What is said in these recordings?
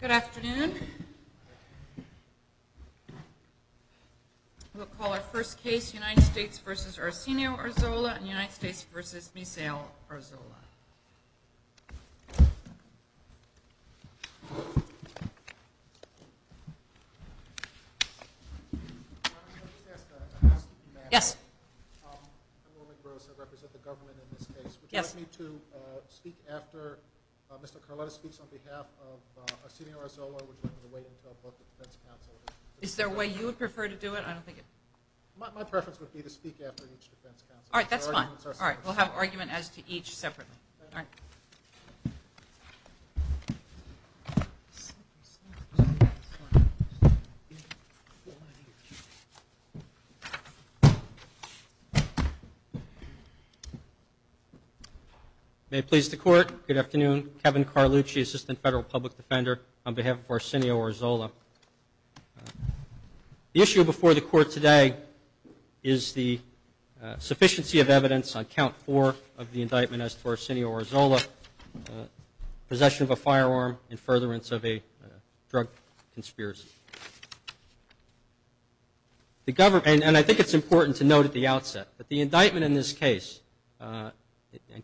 Good afternoon. We'll call our first case United States v. Arsenio Arzola and United States v. Misael Arzola. I represent the government in this case. Would you like me to speak after Mr. Carletta speaks on behalf of Arsenio Arzola? Is there a way you would prefer to do it? My preference would be to speak after each defense counsel. All right, that's fine. We'll have an argument as to each separately. May it please the Court, good afternoon. Kevin Carlucci, Assistant Federal Public Defender on behalf of Arsenio Arzola. The issue before the Court today is the sufficiency of evidence on Count 4 of the indictment as to Arsenio Arzola's possession of a firearm in furtherance of a drug conspiracy. And I think it's important to note at the outset that the indictment in this case,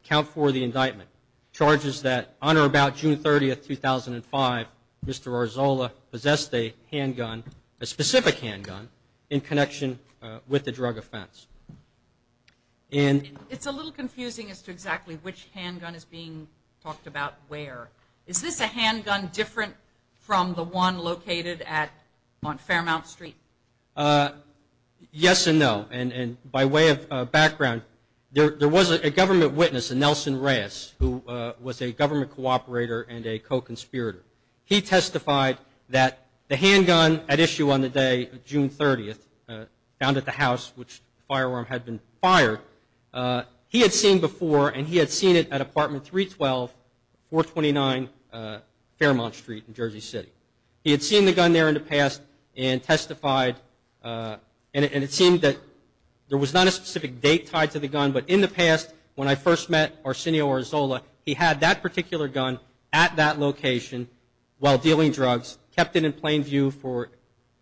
Count 4 of the indictment charges that on or about June 30, 2005, Mr. Arzola possessed a handgun, a specific handgun, in connection with the drug offense. It's a little confusing as to exactly which handgun is being talked about where. Is this a handgun different from the one located on Fairmount Street? Yes and no. And by way of background, there was a government witness, Nelson Reyes, who was a government cooperator and a co-conspirator. He testified that the handgun at issue on the day of June 30, found at the house which the firearm had been fired, he had seen before and he had seen it at Apartment 312, 429 Fairmount Street in Jersey City. He had seen the gun there in the past and testified and it seemed that there was not a specific date tied to the gun, but in the past when I first met Arsenio Arzola, he had that particular gun at that location while dealing drugs, kept it in plain view for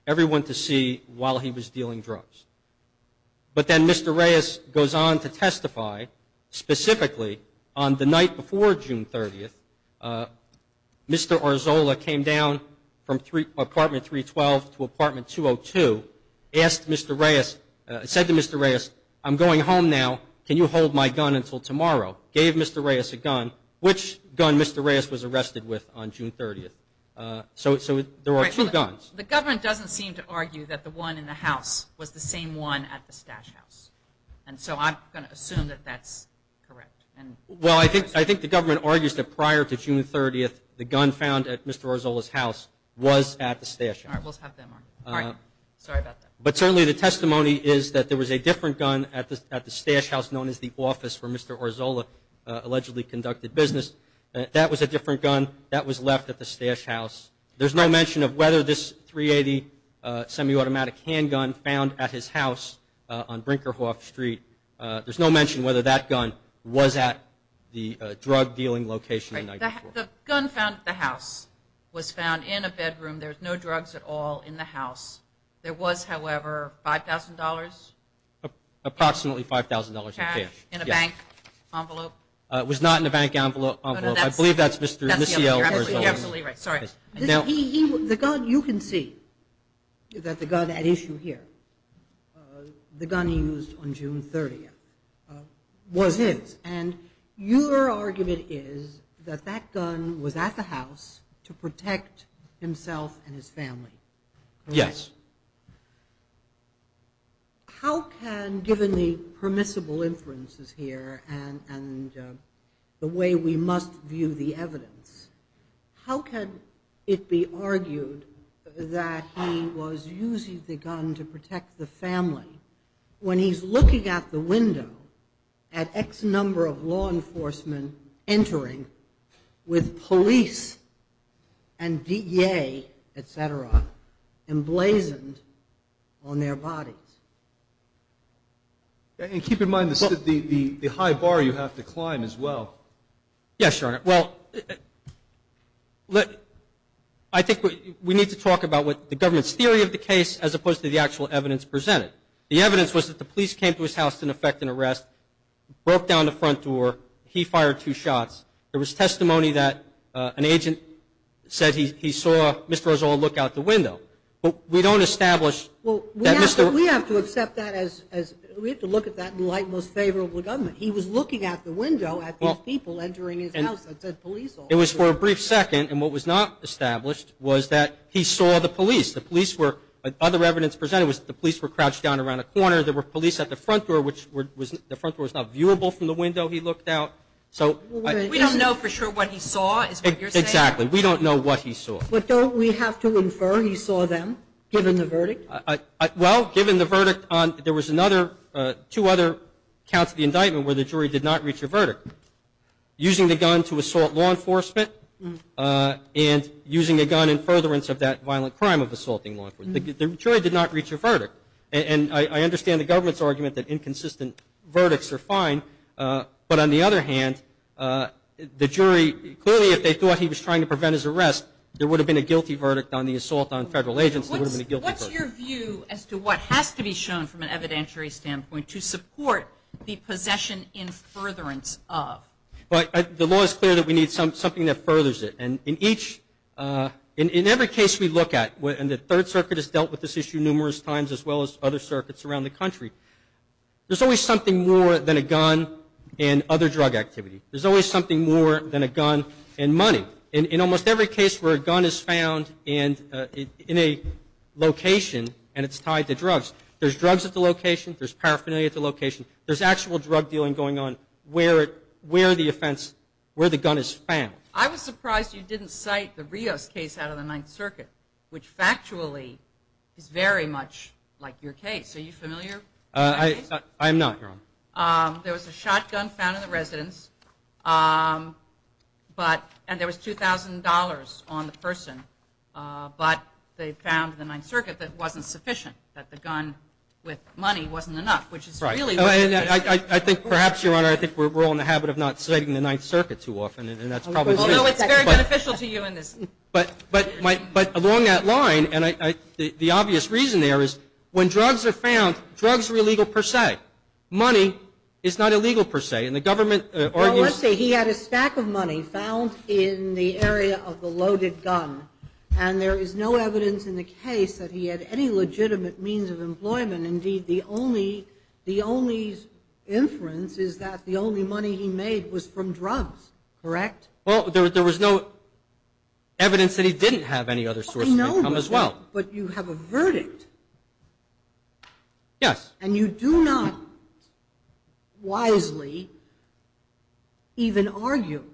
everyone to see while he was dealing drugs. But then Mr. Reyes goes on to testify specifically on the night before June 30, Mr. Arzola came down from Apartment 312 to Apartment 202, asked Mr. Reyes, said to Mr. Reyes, I'm going home now, can you hold my gun until tomorrow? Gave Mr. Reyes a gun. Which gun Mr. Reyes was arrested with on June 30? So there are two guns. The government doesn't seem to argue that the one in the house was the same one at the stash house. And so I'm going to assume that that's correct. Well, I think the government argues that prior to June 30, the gun found at Mr. Arzola's house was at the stash house. But certainly the testimony is that there was a different gun at the stash house known as the office where Mr. Arzola allegedly conducted business. That was a different gun that was left at the stash house. There's no mention of whether this .380 semi-automatic handgun found at his house on Brinkerhoff Street. There's no mention whether that gun was at the drug dealing location the night before. The gun found at the house was found in a bedroom. There was no drugs at all in the house. There was, however, $5,000? Approximately $5,000 in cash. In a bank envelope? It was not in a bank envelope. I believe that's Mr. Arzola. You can see that the gun at issue here, the gun he used on June 30, was his. And your argument is that that gun was at the house to protect himself and his family. Yes. How can, given the permissible inferences here and the way we must view the evidence, how can it be argued that he was using the gun to protect the family when he's looking out the window at X number of law enforcement entering with police and DEA, et cetera, emblazoned on their bodies? And keep in mind the high bar you have to climb as well. Yes, Your Honor. Well, I think we need to talk about what the government's theory of the case as opposed to the actual evidence presented. The evidence was that the police came to his house to effect an arrest, broke down the front door, he fired two shots. There was testimony that an agent said he saw Mr. Arzola look out the window. But we don't establish that Mr. Arzola... Well, we have to accept that as, we have to look at that in light of most favorable government. He was looking out the window at these people entering his house that said police. It was for a brief second, and what was not established was that he saw the police. The police were, other evidence presented was the police were crouched down around a corner. There were police at the front door, which the front door was not viewable from the window he looked out. We don't know for sure what he saw, is what you're saying? Exactly. We don't know what he saw. But don't we have to infer he saw them, given the verdict? Well, given the verdict, there was another, two other counts of the indictment where the jury did not reach a verdict, using the gun to assault law enforcement and using the gun in furtherance of that violent crime of assaulting law enforcement. The jury did not reach a verdict. And I understand the government's argument that inconsistent verdicts are fine, but on the other hand, the jury, clearly if they thought he was trying to prevent his arrest, there would have been a guilty verdict on the assault on federal agents, there would have been a guilty verdict. What's your view as to what has to be shown from an evidentiary standpoint to support the possession in furtherance of? The law is clear that we need something that furthers it. And in each, in every case we look at, and the Third Circuit has dealt with this issue numerous times, as well as other circuits around the country, there's always something more than a gun and other drug activity. There's always something more than a gun and money. In almost every case where a gun is found in a location and it's tied to drugs, there's drugs at the location, there's paraphernalia at the location, there's actual drug dealing going on where the offense, where the gun is found. I was surprised you didn't cite the Rios case out of the Ninth Circuit, which factually is very much like your case. Are you familiar with that case? I am not, Your Honor. There was a shotgun found in the residence, and there was $2,000 on the person, but they found in the Ninth Circuit that it wasn't sufficient, that the gun with money wasn't enough, which is really what the case is. I think perhaps, Your Honor, I think we're all in the habit of not citing the Ninth Circuit too often. Although it's very beneficial to you in this. But along that line, and the obvious reason there is when drugs are found, drugs are illegal per se. Money is not illegal per se. Well, let's say he had a stack of money found in the area of the loaded gun, and there is no evidence in the case that he had any legitimate means of employment. And, indeed, the only inference is that the only money he made was from drugs. Correct? Well, there was no evidence that he didn't have any other sources of income as well. But you have a verdict. Yes. And you do not wisely even argue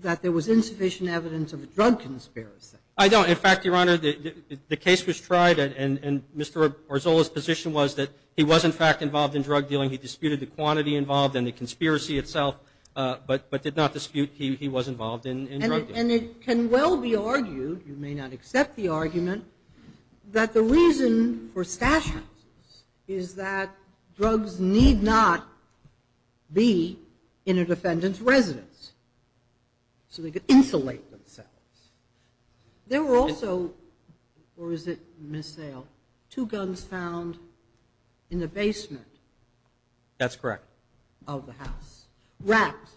that there was insufficient evidence of a drug conspiracy. I don't. In fact, Your Honor, the case was tried, and Mr. Arzola's position was that he was, in fact, involved in drug dealing. He disputed the quantity involved and the conspiracy itself, but did not dispute he was involved in drug dealing. And it can well be argued, you may not accept the argument, that the reason for stash houses is that drugs need not be in a defendant's residence so they could insulate themselves. There were also, or is it missale, two guns found in the basement. That's correct. Of the house, wrapped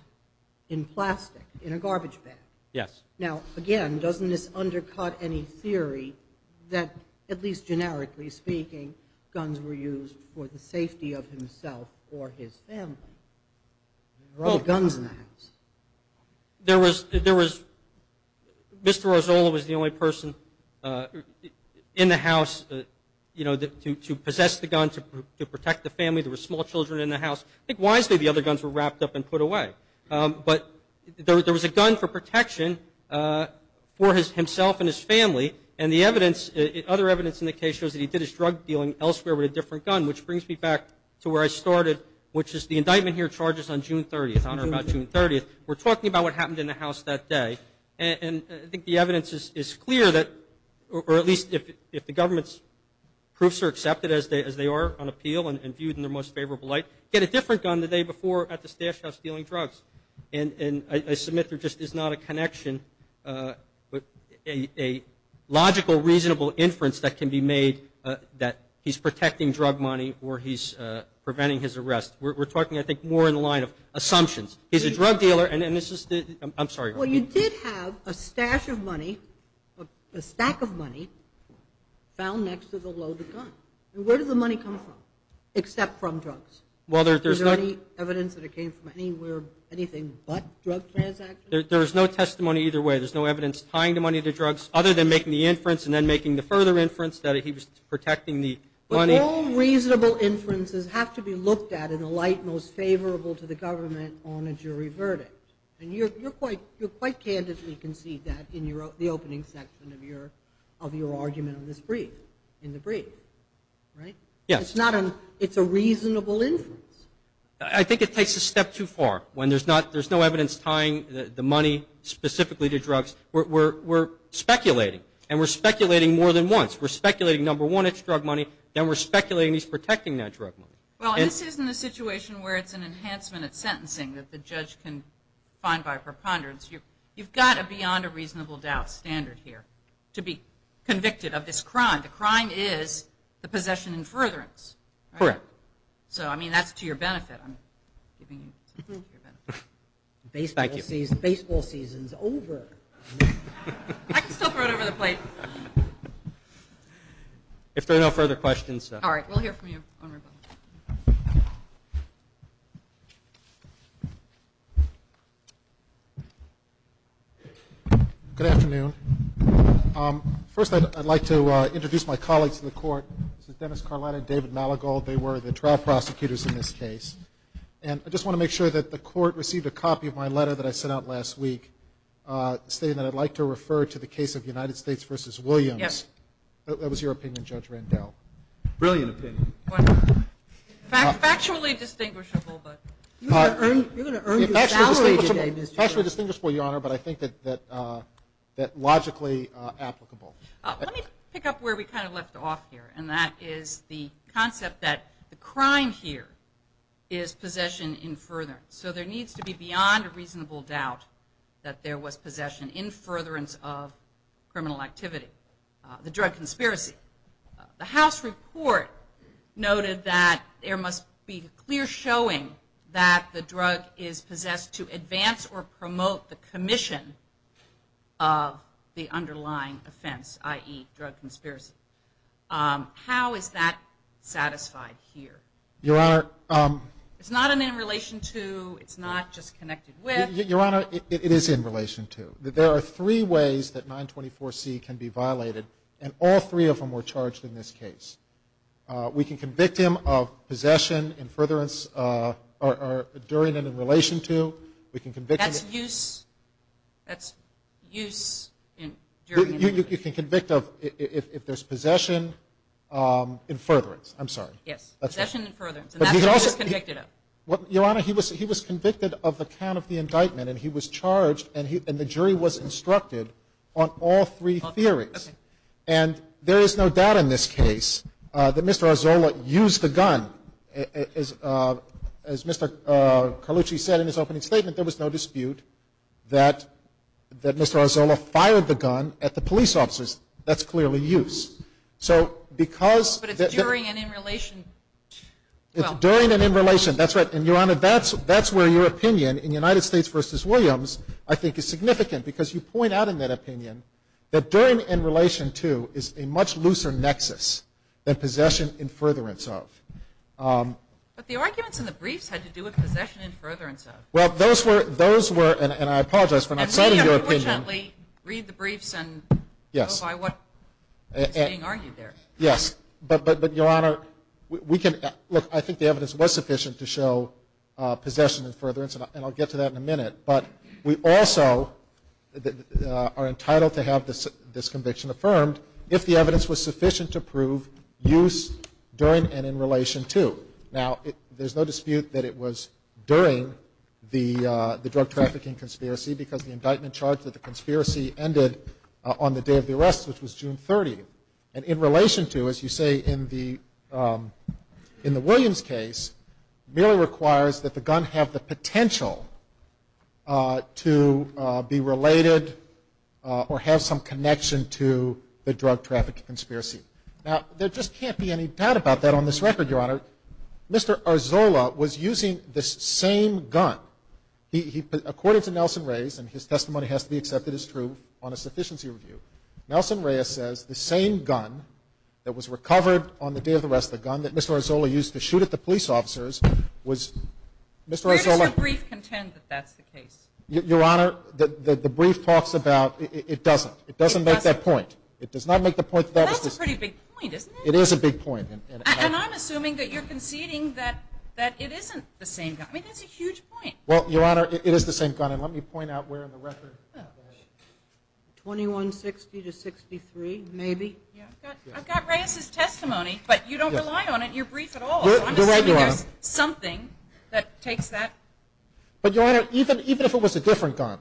in plastic in a garbage bag. Yes. Now, again, doesn't this undercut any theory that, at least generically speaking, guns were used for the safety of himself or his family? There were other guns in the house. There was, Mr. Arzola was the only person in the house to possess the gun, to protect the family. There were small children in the house. I think wisely the other guns were wrapped up and put away. But there was a gun for protection for himself and his family, and the evidence, other evidence in the case, shows that he did his drug dealing elsewhere with a different gun, which brings me back to where I started, which is the indictment here charges on June 30th. We're talking about what happened in the house that day, and I think the evidence is clear that, or at least if the government's proofs are accepted as they are on appeal and viewed in their most favorable light, get a different gun the day before at the stash house stealing drugs. And I submit there just is not a connection, but a logical reasonable inference that can be made that he's protecting drug money or he's preventing his arrest. We're talking, I think, more in the line of assumptions. He's a drug dealer, and this is the, I'm sorry. Well, you did have a stash of money, a stack of money found next to the loaded gun. Where did the money come from except from drugs? Is there any evidence that it came from anywhere, anything but drug transactions? There is no testimony either way. There's no evidence tying the money to drugs other than making the inference and then making the further inference that he was protecting the money. All reasonable inferences have to be looked at in the light most favorable to the government on a jury verdict, and you quite candidly concede that in the opening section of your argument in this brief, in the brief, right? Yes. It's a reasonable inference. I think it takes a step too far when there's no evidence tying the money specifically to drugs. We're speculating, and we're speculating more than once. We're speculating, number one, it's drug money. Then we're speculating he's protecting that drug money. Well, this isn't a situation where it's an enhancement at sentencing that the judge can find by preponderance. You've got a beyond a reasonable doubt standard here to be convicted of this crime. The crime is the possession and furtherance. Correct. So, I mean, that's to your benefit. Baseball season's over. I can still throw it over the plate. If there are no further questions. All right. We'll hear from you on rebuttal. Good afternoon. First, I'd like to introduce my colleagues in the court. This is Dennis Carlotta and David Maligold. They were the trial prosecutors in this case. And I just want to make sure that the court received a copy of my letter that I sent out last week stating that I'd like to refer to the case of United States v. Williams. That was your opinion, Judge Randell. Brilliant opinion. Factually distinguishable. You're going to earn your salary today, Mr. Chairman. Factually distinguishable, Your Honor, but I think that logically applicable. Let me pick up where we kind of left off here, and that is the concept that the crime here is possession in furtherance. So there needs to be beyond a reasonable doubt that there was possession in furtherance of criminal activity. The drug conspiracy. The House report noted that there must be clear showing that the drug is possessed to advance or promote the commission of the underlying offense, i.e., drug conspiracy. How is that satisfied here? Your Honor. It's not an in relation to, it's not just connected with. Your Honor, it is in relation to. There are three ways that 924C can be violated, and all three of them were charged in this case. We can convict him of possession in furtherance or during and in relation to. We can convict him of. That's use during and in relation to. You can convict of if there's possession in furtherance. I'm sorry. Yes, possession in furtherance, and that's what he was convicted of. Your Honor, he was convicted of the count of the indictment, and he was charged, and the jury was instructed on all three theories. Okay. As Mr. Carlucci said in his opening statement, there was no dispute that Mr. Arzola fired the gun at the police officers. That's clearly use. But it's during and in relation. It's during and in relation, that's right. And, Your Honor, that's where your opinion in United States v. Williams I think is significant because you point out in that opinion that during and in relation to is a much looser nexus than possession in furtherance of. But the arguments in the briefs had to do with possession in furtherance of. Well, those were, and I apologize for not citing your opinion. Read the briefs and go by what is being argued there. Yes, but, Your Honor, we can, look, I think the evidence was sufficient to show possession in furtherance, and I'll get to that in a minute. But we also are entitled to have this conviction affirmed if the evidence was sufficient to prove use during and in relation to. Now, there's no dispute that it was during the drug trafficking conspiracy because the indictment charged that the conspiracy ended on the day of the arrest, which was June 30th. And in relation to, as you say, in the Williams case, merely requires that the gun have the potential to be related or have some connection to the drug trafficking conspiracy. Now, there just can't be any doubt about that on this record, Your Honor. Mr. Arzola was using the same gun. According to Nelson Reyes, and his testimony has to be accepted as true on a sufficiency review, Nelson Reyes says the same gun that was recovered on the day of the arrest, the gun that Mr. Arzola used to shoot at the police officers, was Mr. Arzola. Where does your brief contend that that's the case? Your Honor, the brief talks about it doesn't. It doesn't make that point. It does not make the point that that was the case. Well, that's a pretty big point, isn't it? It is a big point. And I'm assuming that you're conceding that it isn't the same gun. I mean, that's a huge point. Well, Your Honor, it is the same gun. And let me point out where in the record. 2160 to 63, maybe. I've got Reyes's testimony, but you don't rely on it in your brief at all. You're right, Your Honor. So I'm assuming there's something that takes that. But, Your Honor, even if it was a different gun,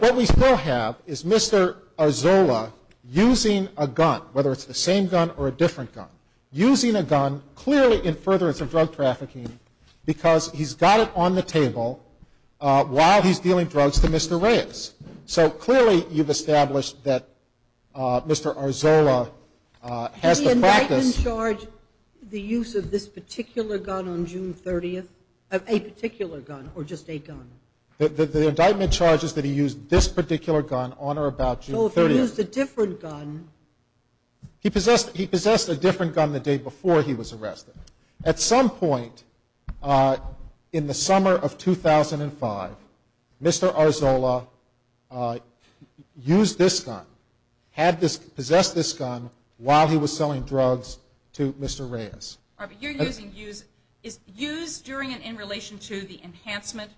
what we still have is Mr. Arzola using a gun, whether it's the same gun or a different gun, using a gun clearly in furtherance of drug trafficking because he's got it on the table while he's dealing drugs to Mr. Reyes. So clearly you've established that Mr. Arzola has the practice. Did the indictment charge the use of this particular gun on June 30th? A particular gun or just a gun? The indictment charges that he used this particular gun on or about June 30th. So if he used a different gun. He possessed a different gun the day before he was arrested. At some point in the summer of 2005, Mr. Arzola used this gun, possessed this gun while he was selling drugs to Mr. Reyes. But you're using use during and in relation to the enhancement,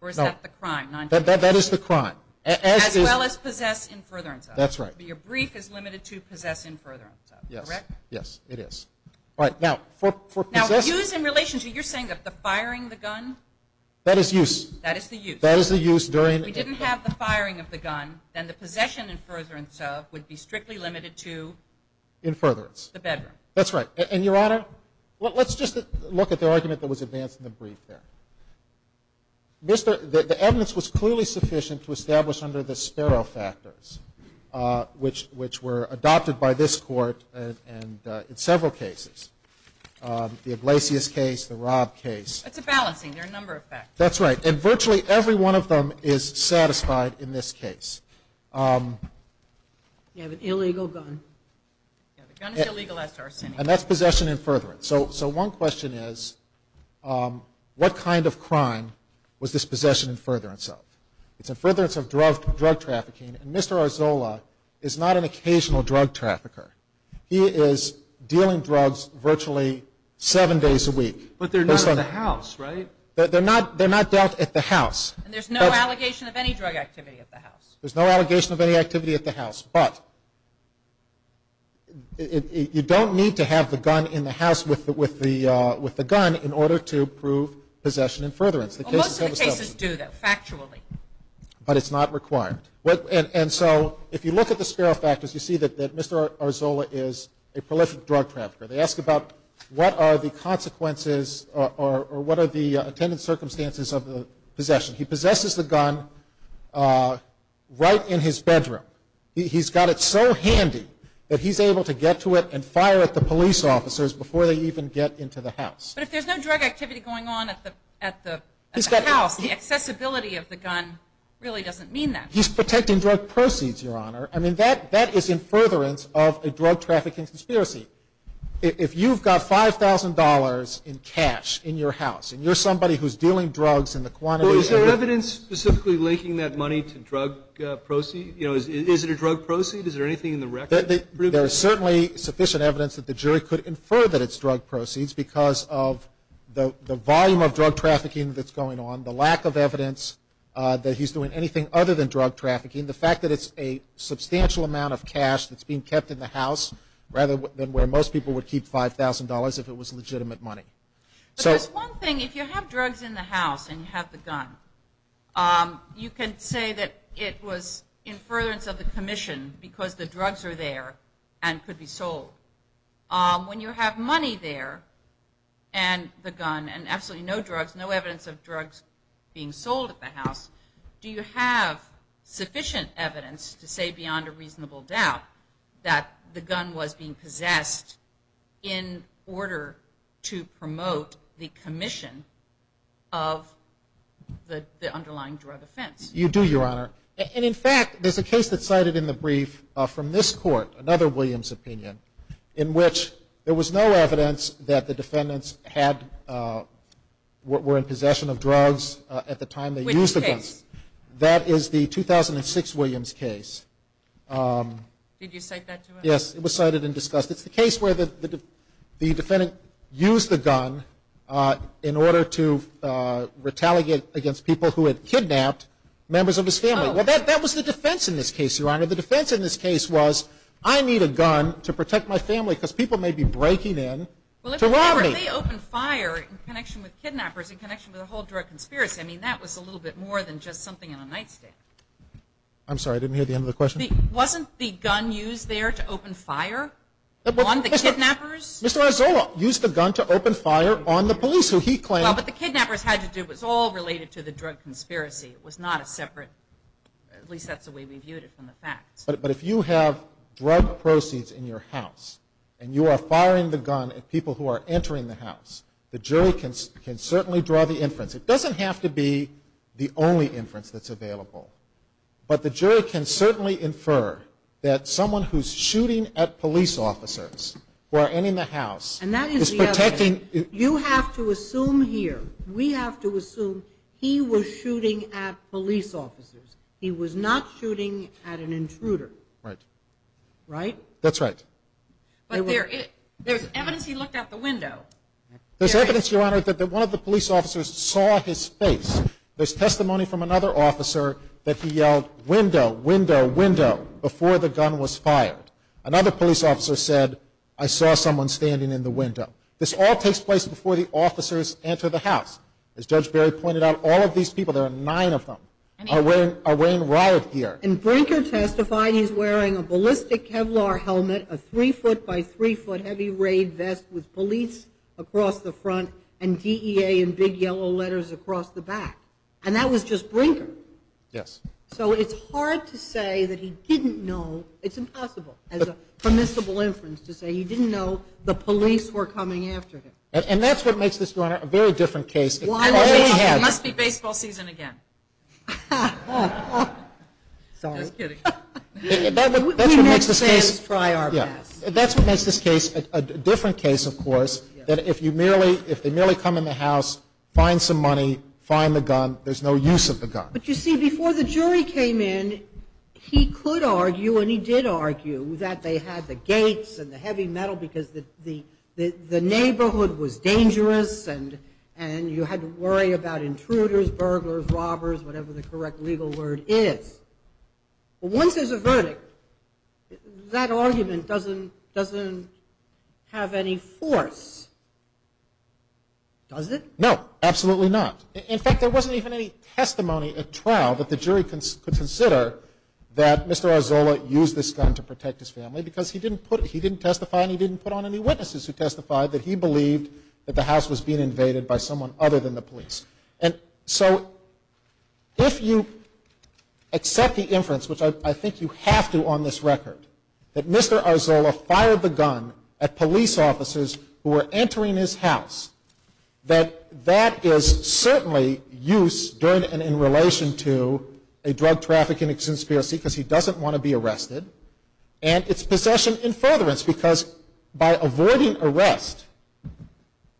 or is that the crime? That is the crime. As well as possess in furtherance of. That's right. But your brief is limited to possess in furtherance of, correct? Yes, it is. All right. Now, use in relation to, you're saying the firing the gun? That is use. That is the use. That is the use during. If he didn't have the firing of the gun, then the possession in furtherance of would be strictly limited to? In furtherance. The bedroom. That's right. And, Your Honor, let's just look at the argument that was advanced in the brief there. The evidence was clearly sufficient to establish under the Sparrow factors, which were adopted by this Court in several cases, the Iglesias case, the Robb case. It's a balancing. There are a number of factors. That's right. And virtually every one of them is satisfied in this case. You have an illegal gun. Yeah, the gun is illegal as tarsanic. And that's possession in furtherance. So one question is, what kind of crime was this possession in furtherance of? It's in furtherance of drug trafficking. And Mr. Arzola is not an occasional drug trafficker. He is dealing drugs virtually seven days a week. But they're not at the house, right? They're not dealt at the house. And there's no allegation of any drug activity at the house. There's no allegation of any activity at the house. But you don't need to have the gun in the house with the gun in order to prove possession in furtherance. Most of the cases do, though, factually. But it's not required. And so if you look at the Sparrow factors, you see that Mr. Arzola is a prolific drug trafficker. They ask about what are the consequences or what are the attendant circumstances of the possession. He possesses the gun right in his bedroom. He's got it so handy that he's able to get to it and fire at the police officers before they even get into the house. But if there's no drug activity going on at the house, the accessibility of the gun really doesn't mean that. He's protecting drug proceeds, Your Honor. I mean, that is in furtherance of a drug trafficking conspiracy. If you've got $5,000 in cash in your house and you're somebody who's dealing drugs in the quantity of the evidence. Is there evidence specifically linking that money to drug proceeds? You know, is it a drug proceed? Is there anything in the record? There is certainly sufficient evidence that the jury could infer that it's drug proceeds because of the volume of drug trafficking that's going on, the lack of evidence that he's doing anything other than drug trafficking, the fact that it's a substantial amount of cash that's being kept in the house rather than where most people would keep $5,000 if it was legitimate money. Because one thing, if you have drugs in the house and you have the gun, you can say that it was in furtherance of the commission because the drugs are there and could be sold. When you have money there and the gun and absolutely no drugs, no evidence of drugs being sold at the house, do you have sufficient evidence to say beyond a reasonable doubt that the gun was being possessed in order to promote the commission of the underlying drug offense? You do, Your Honor. And, in fact, there's a case that's cited in the brief from this court, another Williams opinion, in which there was no evidence that the defendants were in possession of drugs at the time they used the gun. What's the case? That is the 2006 Williams case. Did you cite that to us? Yes, it was cited and discussed. It's the case where the defendant used the gun in order to retaliate against people who had kidnapped members of his family. Well, that was the defense in this case, Your Honor. The defense in this case was I need a gun to protect my family because people may be breaking in to rob me. Well, if they opened fire in connection with kidnappers, in connection with the whole drug conspiracy, I mean, that was a little bit more than just something in a nightstand. I'm sorry, I didn't hear the end of the question. Wasn't the gun used there to open fire on the kidnappers? Mr. Arzola used the gun to open fire on the police who he claimed – Well, but the kidnappers had to do – it was all related to the drug conspiracy. It was not a separate – at least that's the way we viewed it from the facts. But if you have drug proceeds in your house and you are firing the gun at people who are entering the house, the jury can certainly draw the inference. It doesn't have to be the only inference that's available, but the jury can certainly infer that someone who's shooting at police officers who are entering the house is protecting – And that is the other thing. You have to assume here, we have to assume he was shooting at police officers. He was not shooting at an intruder. Right. Right? That's right. But there's evidence he looked out the window. There's evidence, Your Honor, that one of the police officers saw his face. There's testimony from another officer that he yelled, window, window, window, before the gun was fired. Another police officer said, I saw someone standing in the window. This all takes place before the officers enter the house. As Judge Berry pointed out, all of these people – there are nine of them – are wearing riot gear. And Brinker testified he's wearing a ballistic Kevlar helmet, a three-foot by three-foot heavy raid vest with police across the front and DEA in big yellow letters across the back. And that was just Brinker. Yes. So it's hard to say that he didn't know. It's impossible as a permissible inference to say he didn't know the police were coming after him. And that's what makes this, Your Honor, a very different case. It must be baseball season again. Sorry. Just kidding. We Mexicans try our best. That's what makes this case a different case, of course, that if they merely come in the house, find some money, find the gun, there's no use of the gun. But, you see, before the jury came in, he could argue, and he did argue, that they had the gates and the heavy metal because the neighborhood was dangerous and you had to worry about intruders, burglars, robbers, whatever the correct legal word is. Once there's a verdict, that argument doesn't have any force, does it? No, absolutely not. In fact, there wasn't even any testimony at trial that the jury could consider that Mr. Arzola used this gun to protect his family because he didn't testify and he didn't put on any witnesses who testified that he believed that the house was being invaded by someone other than the police. And so if you accept the inference, which I think you have to on this record, that Mr. Arzola fired the gun at police officers who were entering his house, that that is certainly use during and in relation to a drug trafficking conspiracy because he doesn't want to be arrested. And it's possession in furtherance because by avoiding arrest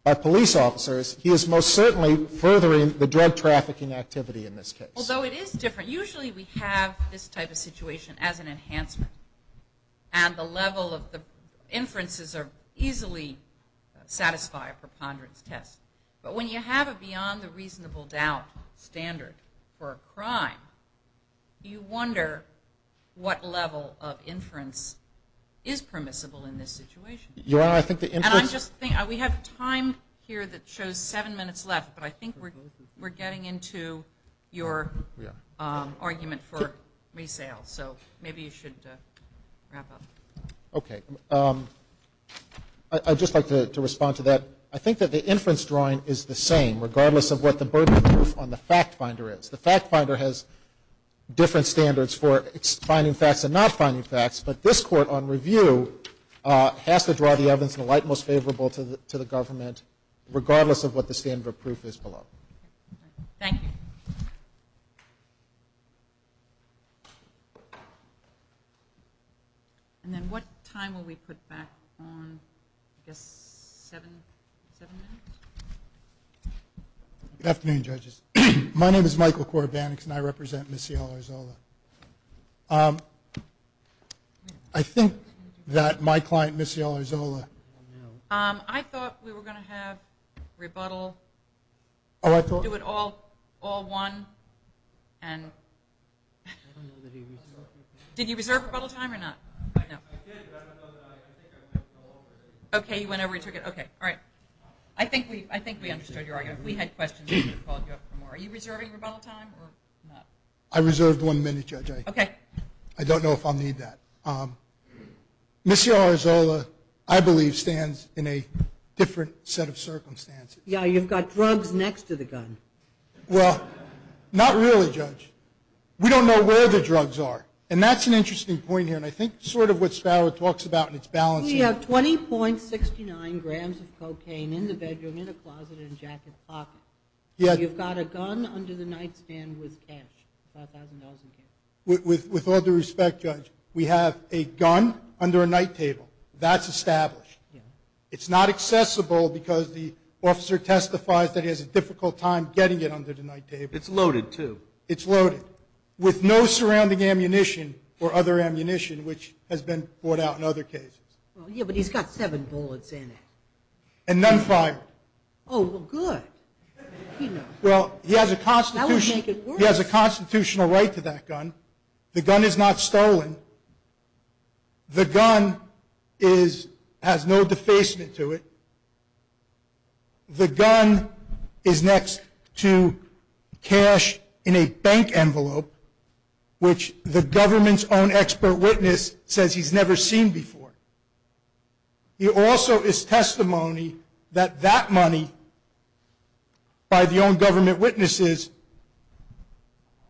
by police officers, he is most certainly furthering the drug trafficking activity in this case. Although it is different. Usually we have this type of situation as an enhancement and the level of the inferences easily satisfy a preponderance test. But when you have it beyond the reasonable doubt standard for a crime, you wonder what level of inference is permissible in this situation. We have time here that shows seven minutes left, but I think we're getting into your argument for resale. So maybe you should wrap up. Okay. I'd just like to respond to that. I think that the inference drawing is the same, regardless of what the burden of proof on the fact finder is. The fact finder has different standards for finding facts and not finding facts, but this court on review has to draw the evidence in the light most favorable to the government, regardless of what the standard of proof is below. Thank you. And then what time will we put back on, I guess, seven minutes? Good afternoon, judges. My name is Michael Korobaniks, and I represent Missy Ellersola. I think that my client, Missy Ellersola. I thought we were going to have rebuttal. Oh, I thought. Do it all one. Did you reserve rebuttal time or not? Okay, you went over your ticket. Okay, all right. I think we understood your argument. If we had questions, we would have called you up for more. Are you reserving rebuttal time or not? I reserved one minute, Judge. Okay. I don't know if I'll need that. Missy Ellersola, I believe, stands in a different set of circumstances. Yeah, you've got drugs next to the gun. Well, not really, Judge. We don't know where the drugs are, and that's an interesting point here, and I think sort of what Sparrow talks about in its balance. We have 20.69 grams of cocaine in the bedroom, in a closet, in a jacket pocket. You've got a gun under the nightstand with cash, $5,000 in cash. With all due respect, Judge, we have a gun under a night table. That's established. It's not accessible because the officer testifies that he has a difficult time getting it under the night table. It's loaded, too. It's loaded. With no surrounding ammunition or other ammunition, which has been brought out in other cases. Yeah, but he's got seven bullets in it. And none fired. Oh, well, good. Well, he has a constitutional right to that gun. The gun is not stolen. The gun has no defacement to it. The gun is next to cash in a bank envelope, which the government's own expert witness says he's never seen before. He also is testimony that that money, by the own government witnesses,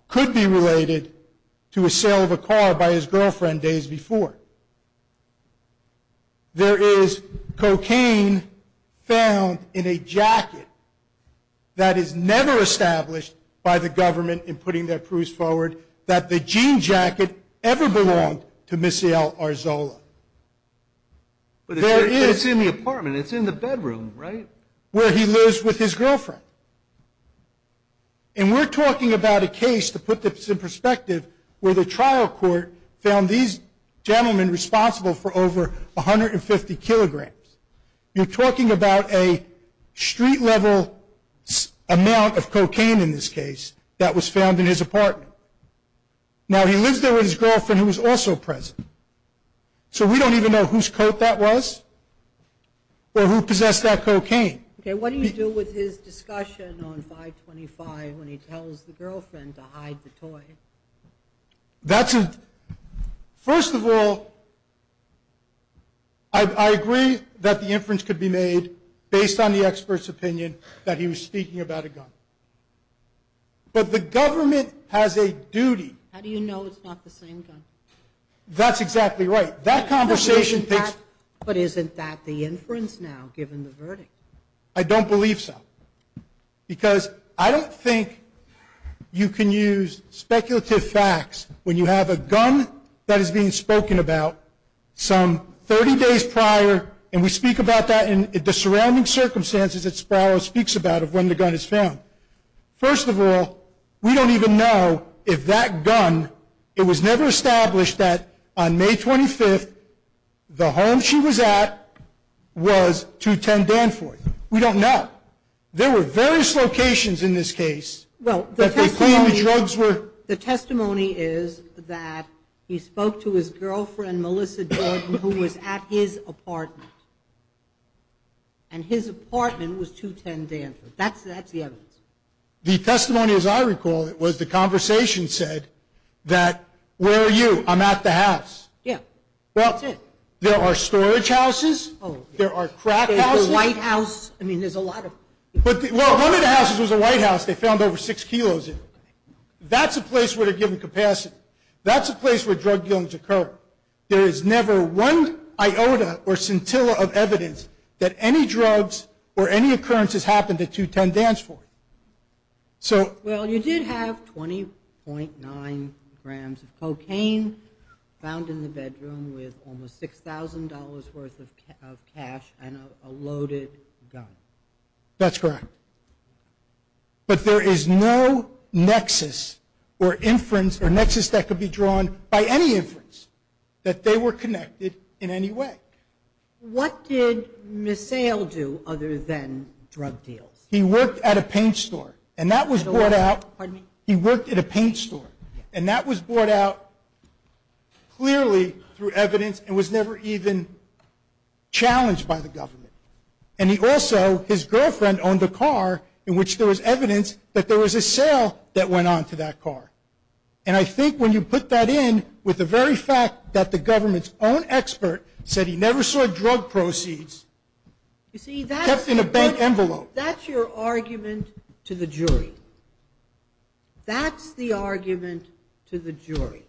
could be related to a sale of a car by his girlfriend days before. There is cocaine found in a jacket that is never established by the government in putting their proofs forward that the jean jacket ever belonged to Missy L. Arzola. But it's in the apartment. It's in the bedroom, right? Where he lives with his girlfriend. And we're talking about a case, to put this in perspective, where the trial court found these gentlemen responsible for over 150 kilograms. You're talking about a street-level amount of cocaine, in this case, that was found in his apartment. Now, he lives there with his girlfriend, who was also present. So we don't even know whose coat that was or who possessed that cocaine. Okay, what do you do with his discussion on 525 when he tells the girlfriend to hide the toy? First of all, I agree that the inference could be made based on the expert's opinion that he was speaking about a gun. But the government has a duty. How do you know it's not the same gun? That's exactly right. But isn't that the inference now, given the verdict? I don't believe so. Because I don't think you can use speculative facts when you have a gun that is being spoken about some 30 days prior, and we speak about that in the surrounding circumstances that Sparrow speaks about of when the gun is found. First of all, we don't even know if that gun, it was never established that on May 25th, the home she was at was 210 Danforth. We don't know. There were various locations in this case that they claimed the drugs were. Well, the testimony is that he spoke to his girlfriend, Melissa Jordan, who was at his apartment. And his apartment was 210 Danforth. That's the evidence. The testimony, as I recall it, was the conversation said that, where are you? I'm at the house. Yeah. That's it. There are storage houses. There are crack houses. There's a White House. I mean, there's a lot of. Well, one of the houses was a White House. They found over six kilos in it. That's a place where they're given capacity. That's a place where drug dealings occur. There is never one iota or scintilla of evidence that any drugs or any occurrences happened at 210 Danforth. So. Well, you did have 20.9 grams of cocaine found in the bedroom with almost $6,000 worth of cash and a loaded gun. That's correct. But there is no nexus or inference or nexus that could be drawn by any inference that they were connected in any way. What did Misael do other than drug deals? He worked at a paint store. And that was brought out. Pardon me? He worked at a paint store. And that was brought out clearly through evidence and was never even challenged by the government. And he also, his girlfriend owned a car in which there was evidence that there was a sale that went on to that car. And I think when you put that in with the very fact that the government's own expert said he never saw drug proceeds. You see, that's. Kept in a bank envelope. That's your argument to the jury. That's the argument to the jury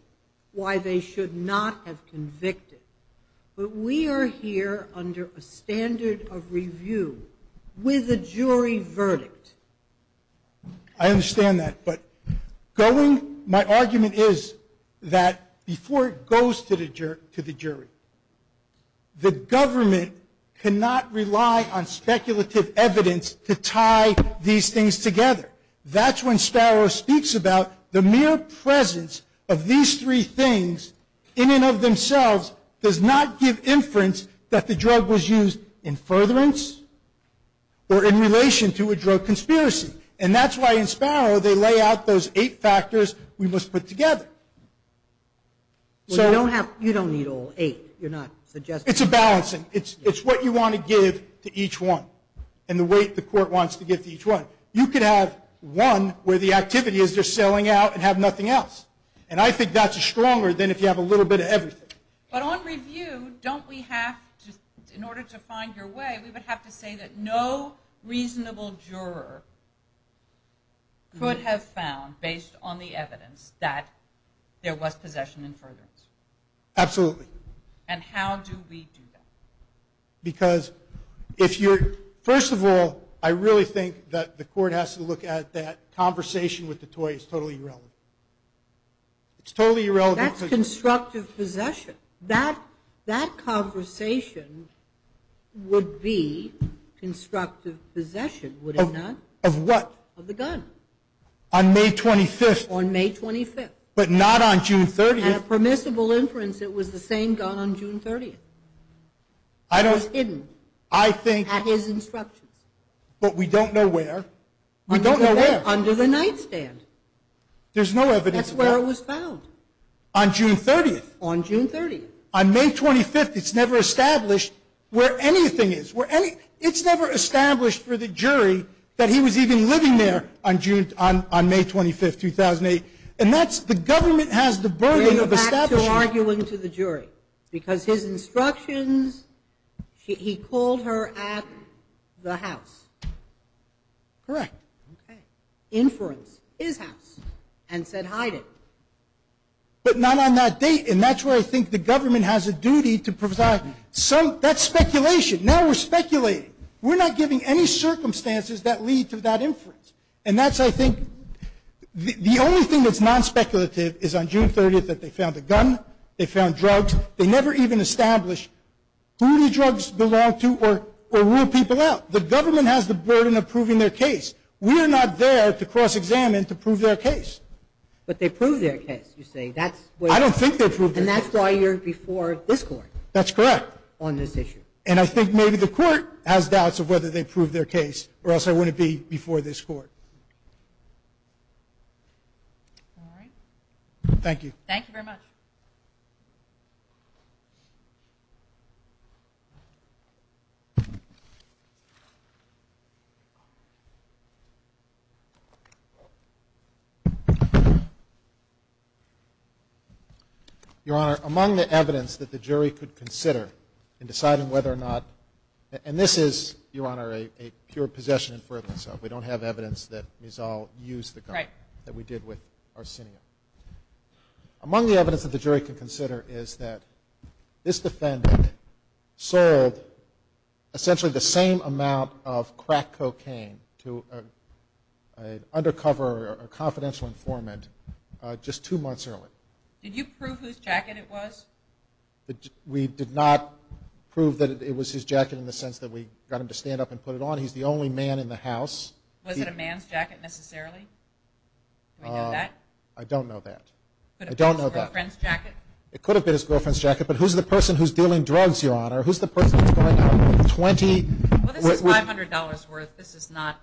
why they should not have convicted. But we are here under a standard of review with a jury verdict. I understand that. But going, my argument is that before it goes to the jury, the government cannot rely on speculative evidence to tie these things together. That's when Sparrow speaks about the mere presence of these three things in and of themselves does not give inference that the drug was used in furtherance or in relation to a drug conspiracy. And that's why in Sparrow they lay out those eight factors we must put together. So. You don't need all eight. You're not suggesting. It's a balancing. It's what you want to give to each one. And the weight the court wants to give to each one. You could have one where the activity is they're selling out and have nothing else. And I think that's stronger than if you have a little bit of everything. But on review, don't we have to, in order to find your way, we would have to say that no reasonable juror could have found, based on the evidence, that there was possession in furtherance. Absolutely. And how do we do that? Because if you're, first of all, I really think that the court has to look at that conversation with the toy is totally irrelevant. It's totally irrelevant. That's constructive possession. That conversation would be constructive possession, would it not? Of what? Of the gun. On May 25th. On May 25th. But not on June 30th. And a permissible inference it was the same gun on June 30th. I don't. It was hidden. I think. At his instructions. But we don't know where. We don't know where. Under the nightstand. There's no evidence of that. That's where it was found. On June 30th. On June 30th. On May 25th, it's never established where anything is. It's never established for the jury that he was even living there on May 25th, 2008. And that's, the government has the burden of establishing. Why is he arguing to the jury? Because his instructions, he called her at the house. Correct. Okay. Inference. His house. And said hide it. But not on that date. And that's where I think the government has a duty to provide some, that's speculation. Now we're speculating. We're not giving any circumstances that lead to that inference. And that's, I think, the only thing that's non-speculative is on June 30th that they found a gun. They found drugs. They never even established who the drugs belonged to or ruled people out. The government has the burden of proving their case. We are not there to cross-examine to prove their case. But they proved their case, you say. I don't think they proved their case. And that's why you're before this court. That's correct. On this issue. And I think maybe the court has doubts of whether they proved their case or else I wouldn't be before this court. All right. Thank you. Thank you very much. Your Honor, among the evidence that the jury could consider in deciding whether or not, and this is, Your Honor, a pure possession inference. We don't have evidence that Mizal used the gun that we did with Arsenio. Among the evidence that the jury could consider is that this defendant sold essentially the same amount of crack cocaine to an undercover or confidential informant just two months earlier. Did you prove whose jacket it was? We did not prove that it was his jacket in the sense that we got him to stand up and put it on. He's the only man in the house. Was it a man's jacket necessarily? Do we know that? I don't know that. It could have been his girlfriend's jacket. It could have been his girlfriend's jacket. But who's the person who's dealing drugs, Your Honor? Who's the person who's going out with 20? Well, this is $500 worth. This is not.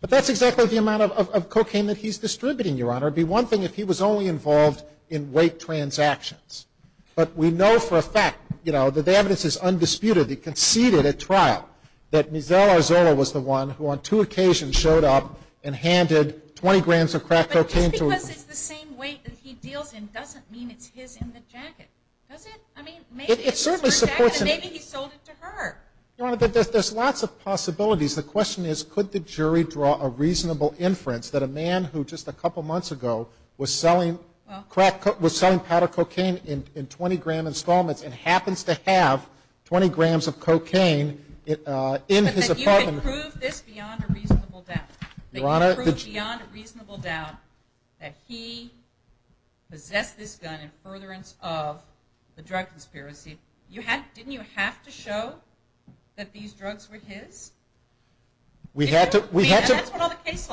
But that's exactly the amount of cocaine that he's distributing, Your Honor. It would be one thing if he was only involved in rape transactions. But we know for a fact, you know, that the evidence is undisputed. He conceded at trial that Mizell Arzola was the one who on two occasions showed up and handed 20 grams of crack cocaine to a woman. But just because it's the same weight that he deals in doesn't mean it's his in the jacket, does it? I mean, maybe it's his in the jacket, and maybe he sold it to her. Your Honor, there's lots of possibilities. The question is could the jury draw a reasonable inference that a man who just a couple months ago was selling crack cocaine, was selling powder cocaine in 20-gram installments and happens to have 20 grams of cocaine in his apartment. But that you could prove this beyond a reasonable doubt. Your Honor. That you could prove beyond a reasonable doubt that he possessed this gun in furtherance of the drug conspiracy. Didn't you have to show that these drugs were his? We had to. The case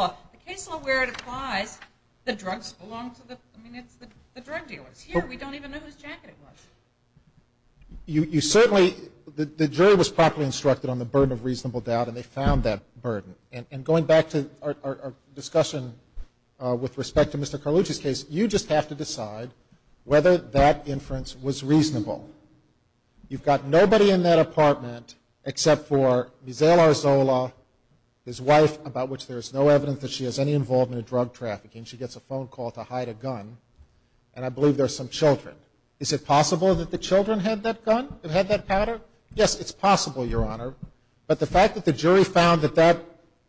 law where it applies, the drugs belong to the drug dealers. Here we don't even know whose jacket it was. You certainly, the jury was properly instructed on the burden of reasonable doubt, and they found that burden. And going back to our discussion with respect to Mr. Carlucci's case, you just have to decide whether that inference was reasonable. You've got nobody in that apartment except for Misael Arzola, his wife about which there is no evidence that she has any involvement in drug trafficking. She gets a phone call to hide a gun, and I believe there are some children. Is it possible that the children had that gun and had that powder? Yes, it's possible, Your Honor. But the fact that the jury found that that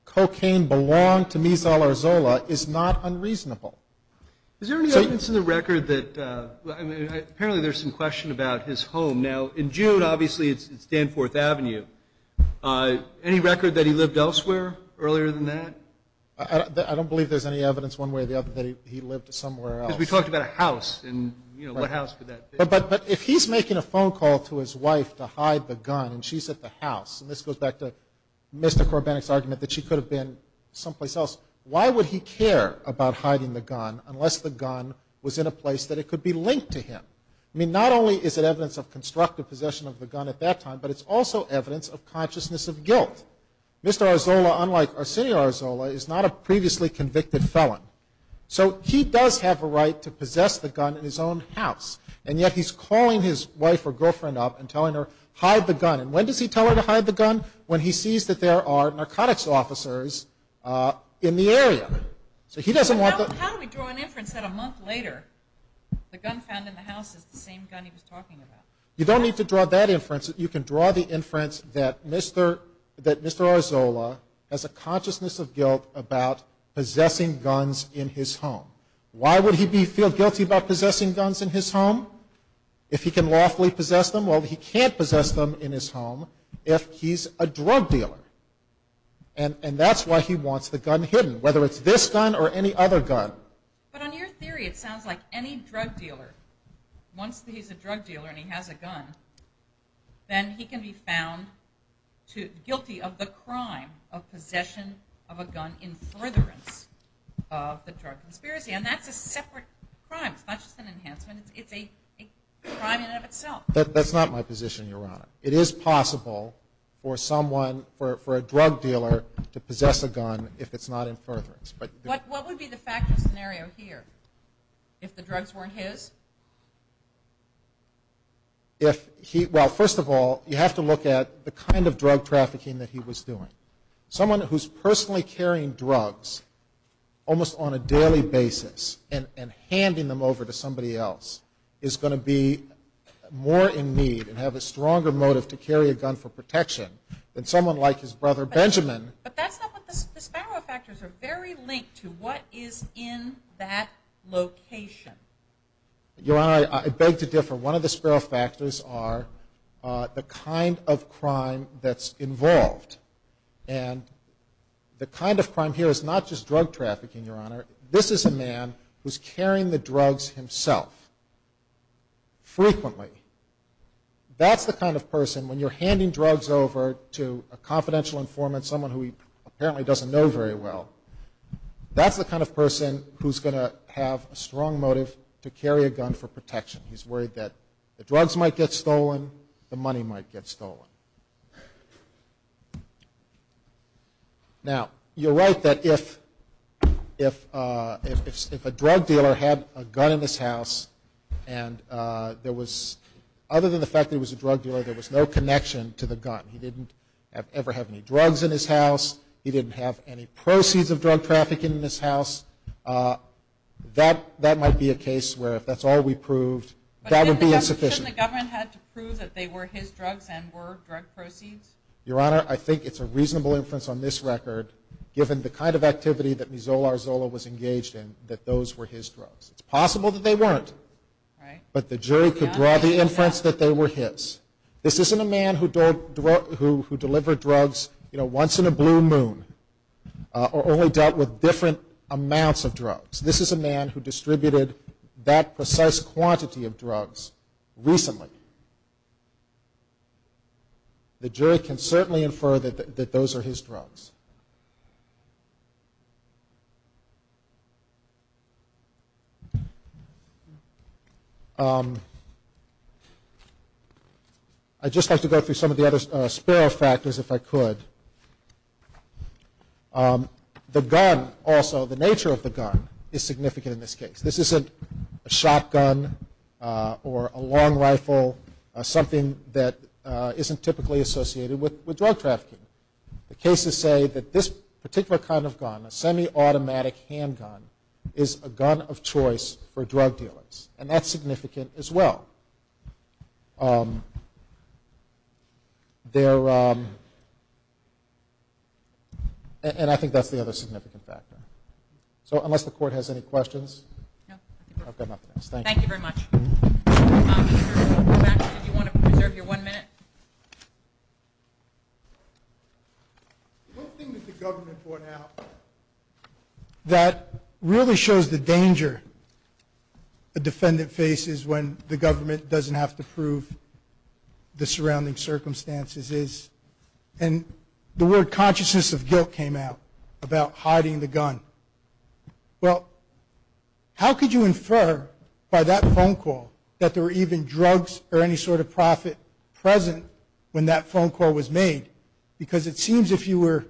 cocaine belonged to Misael Arzola is not unreasonable. Is there any evidence in the record that, I mean, apparently there's some question about his home. Now, in June, obviously, it's Danforth Avenue. Any record that he lived elsewhere earlier than that? I don't believe there's any evidence one way or the other that he lived somewhere else. Because we talked about a house, and, you know, what house could that be? But if he's making a phone call to his wife to hide the gun and she's at the house, and this goes back to Mr. Korbenek's argument that she could have been someplace else, why would he care about hiding the gun unless the gun was in a place that it could be linked to him? I mean, not only is it evidence of constructive possession of the gun at that time, but it's also evidence of consciousness of guilt. Mr. Arzola, unlike Arsenio Arzola, is not a previously convicted felon. So he does have a right to possess the gun in his own house, and yet he's calling his wife or girlfriend up and telling her, hide the gun. And when does he tell her to hide the gun? When he sees that there are narcotics officers in the area. So he doesn't want the... But how do we draw an inference that a month later the gun found in the house is the same gun he was talking about? You don't need to draw that inference. You can draw the inference that Mr. Arzola has a consciousness of guilt about possessing guns in his home. Why would he feel guilty about possessing guns in his home if he can lawfully possess them? Well, he can't possess them in his home if he's a drug dealer. And that's why he wants the gun hidden, whether it's this gun or any other gun. But on your theory, it sounds like any drug dealer, once he's a drug dealer and he has a gun, then he can be found guilty of the crime of possession of a gun in furtherance of the drug conspiracy. And that's a separate crime. It's not just an enhancement. It's a crime in and of itself. That's not my position, Your Honor. It is possible for someone, for a drug dealer to possess a gun if it's not in furtherance. What would be the factual scenario here if the drugs weren't his? Well, first of all, you have to look at the kind of drug trafficking that he was doing. Someone who's personally carrying drugs almost on a daily basis and handing them over to somebody else is going to be more in need and have a stronger motive to carry a gun for protection than someone like his brother Benjamin. But that's not what the Sparrow factors are very linked to. What is in that location? Your Honor, I beg to differ. One of the Sparrow factors are the kind of crime that's involved. And the kind of crime here is not just drug trafficking, Your Honor. This is a man who's carrying the drugs himself frequently. That's the kind of person, when you're handing drugs over to a confidential informant, someone who he apparently doesn't know very well, that's the kind of person who's going to have a strong motive to carry a gun for protection. He's worried that the drugs might get stolen, the money might get stolen. Now, you're right that if a drug dealer had a gun in his house and other than the fact that he was a drug dealer, there was no connection to the gun. He didn't ever have any drugs in his house. He didn't have any proceeds of drug trafficking in his house. That might be a case where if that's all we proved, that would be insufficient. Shouldn't the government have to prove that they were his drugs and were drug proceeds? Your Honor, I think it's a reasonable inference on this record, given the kind of activity that Mizola Arzola was engaged in, that those were his drugs. It's possible that they weren't. But the jury could draw the inference that they were his. This isn't a man who delivered drugs once in a blue moon or only dealt with different amounts of drugs. This is a man who distributed that precise quantity of drugs recently. The jury can certainly infer that those are his drugs. I'd just like to go through some of the other sparrow factors, if I could. The gun also, the nature of the gun, is significant in this case. This isn't a shotgun or a long rifle, something that isn't typically associated with drug trafficking. The cases say that this particular kind of gun, a semi-automatic handgun, is a gun of choice for drug dealers. And that's significant as well. And I think that's the other significant factor. So unless the Court has any questions, I've got nothing else. Thank you. Thank you very much. Mr. Robach, did you want to reserve your one minute? One thing that the government brought out that really shows the danger a defendant faces when the government doesn't have to prove the surrounding circumstances is, and the word consciousness of guilt came out about hiding the gun. Well, how could you infer by that phone call that there were even drugs or any sort of profit present when that phone call was made? Because it seems if you were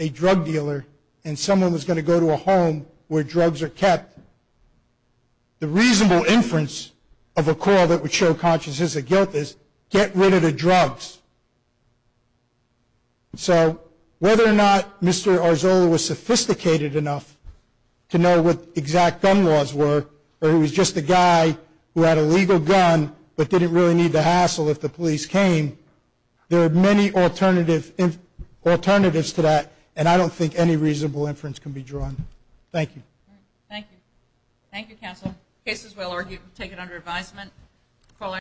a drug dealer and someone was going to go to a home where drugs are kept, the reasonable inference of a call that would show consciousness of guilt is, get rid of the drugs. So whether or not Mr. Arzola was sophisticated enough to know what exact gun laws were or he was just a guy who had a legal gun but didn't really need the hassle if the police came, there are many alternatives to that, and I don't think any reasonable inference can be drawn. Thank you. Thank you. Thank you, counsel. Cases, we'll take it under advisement.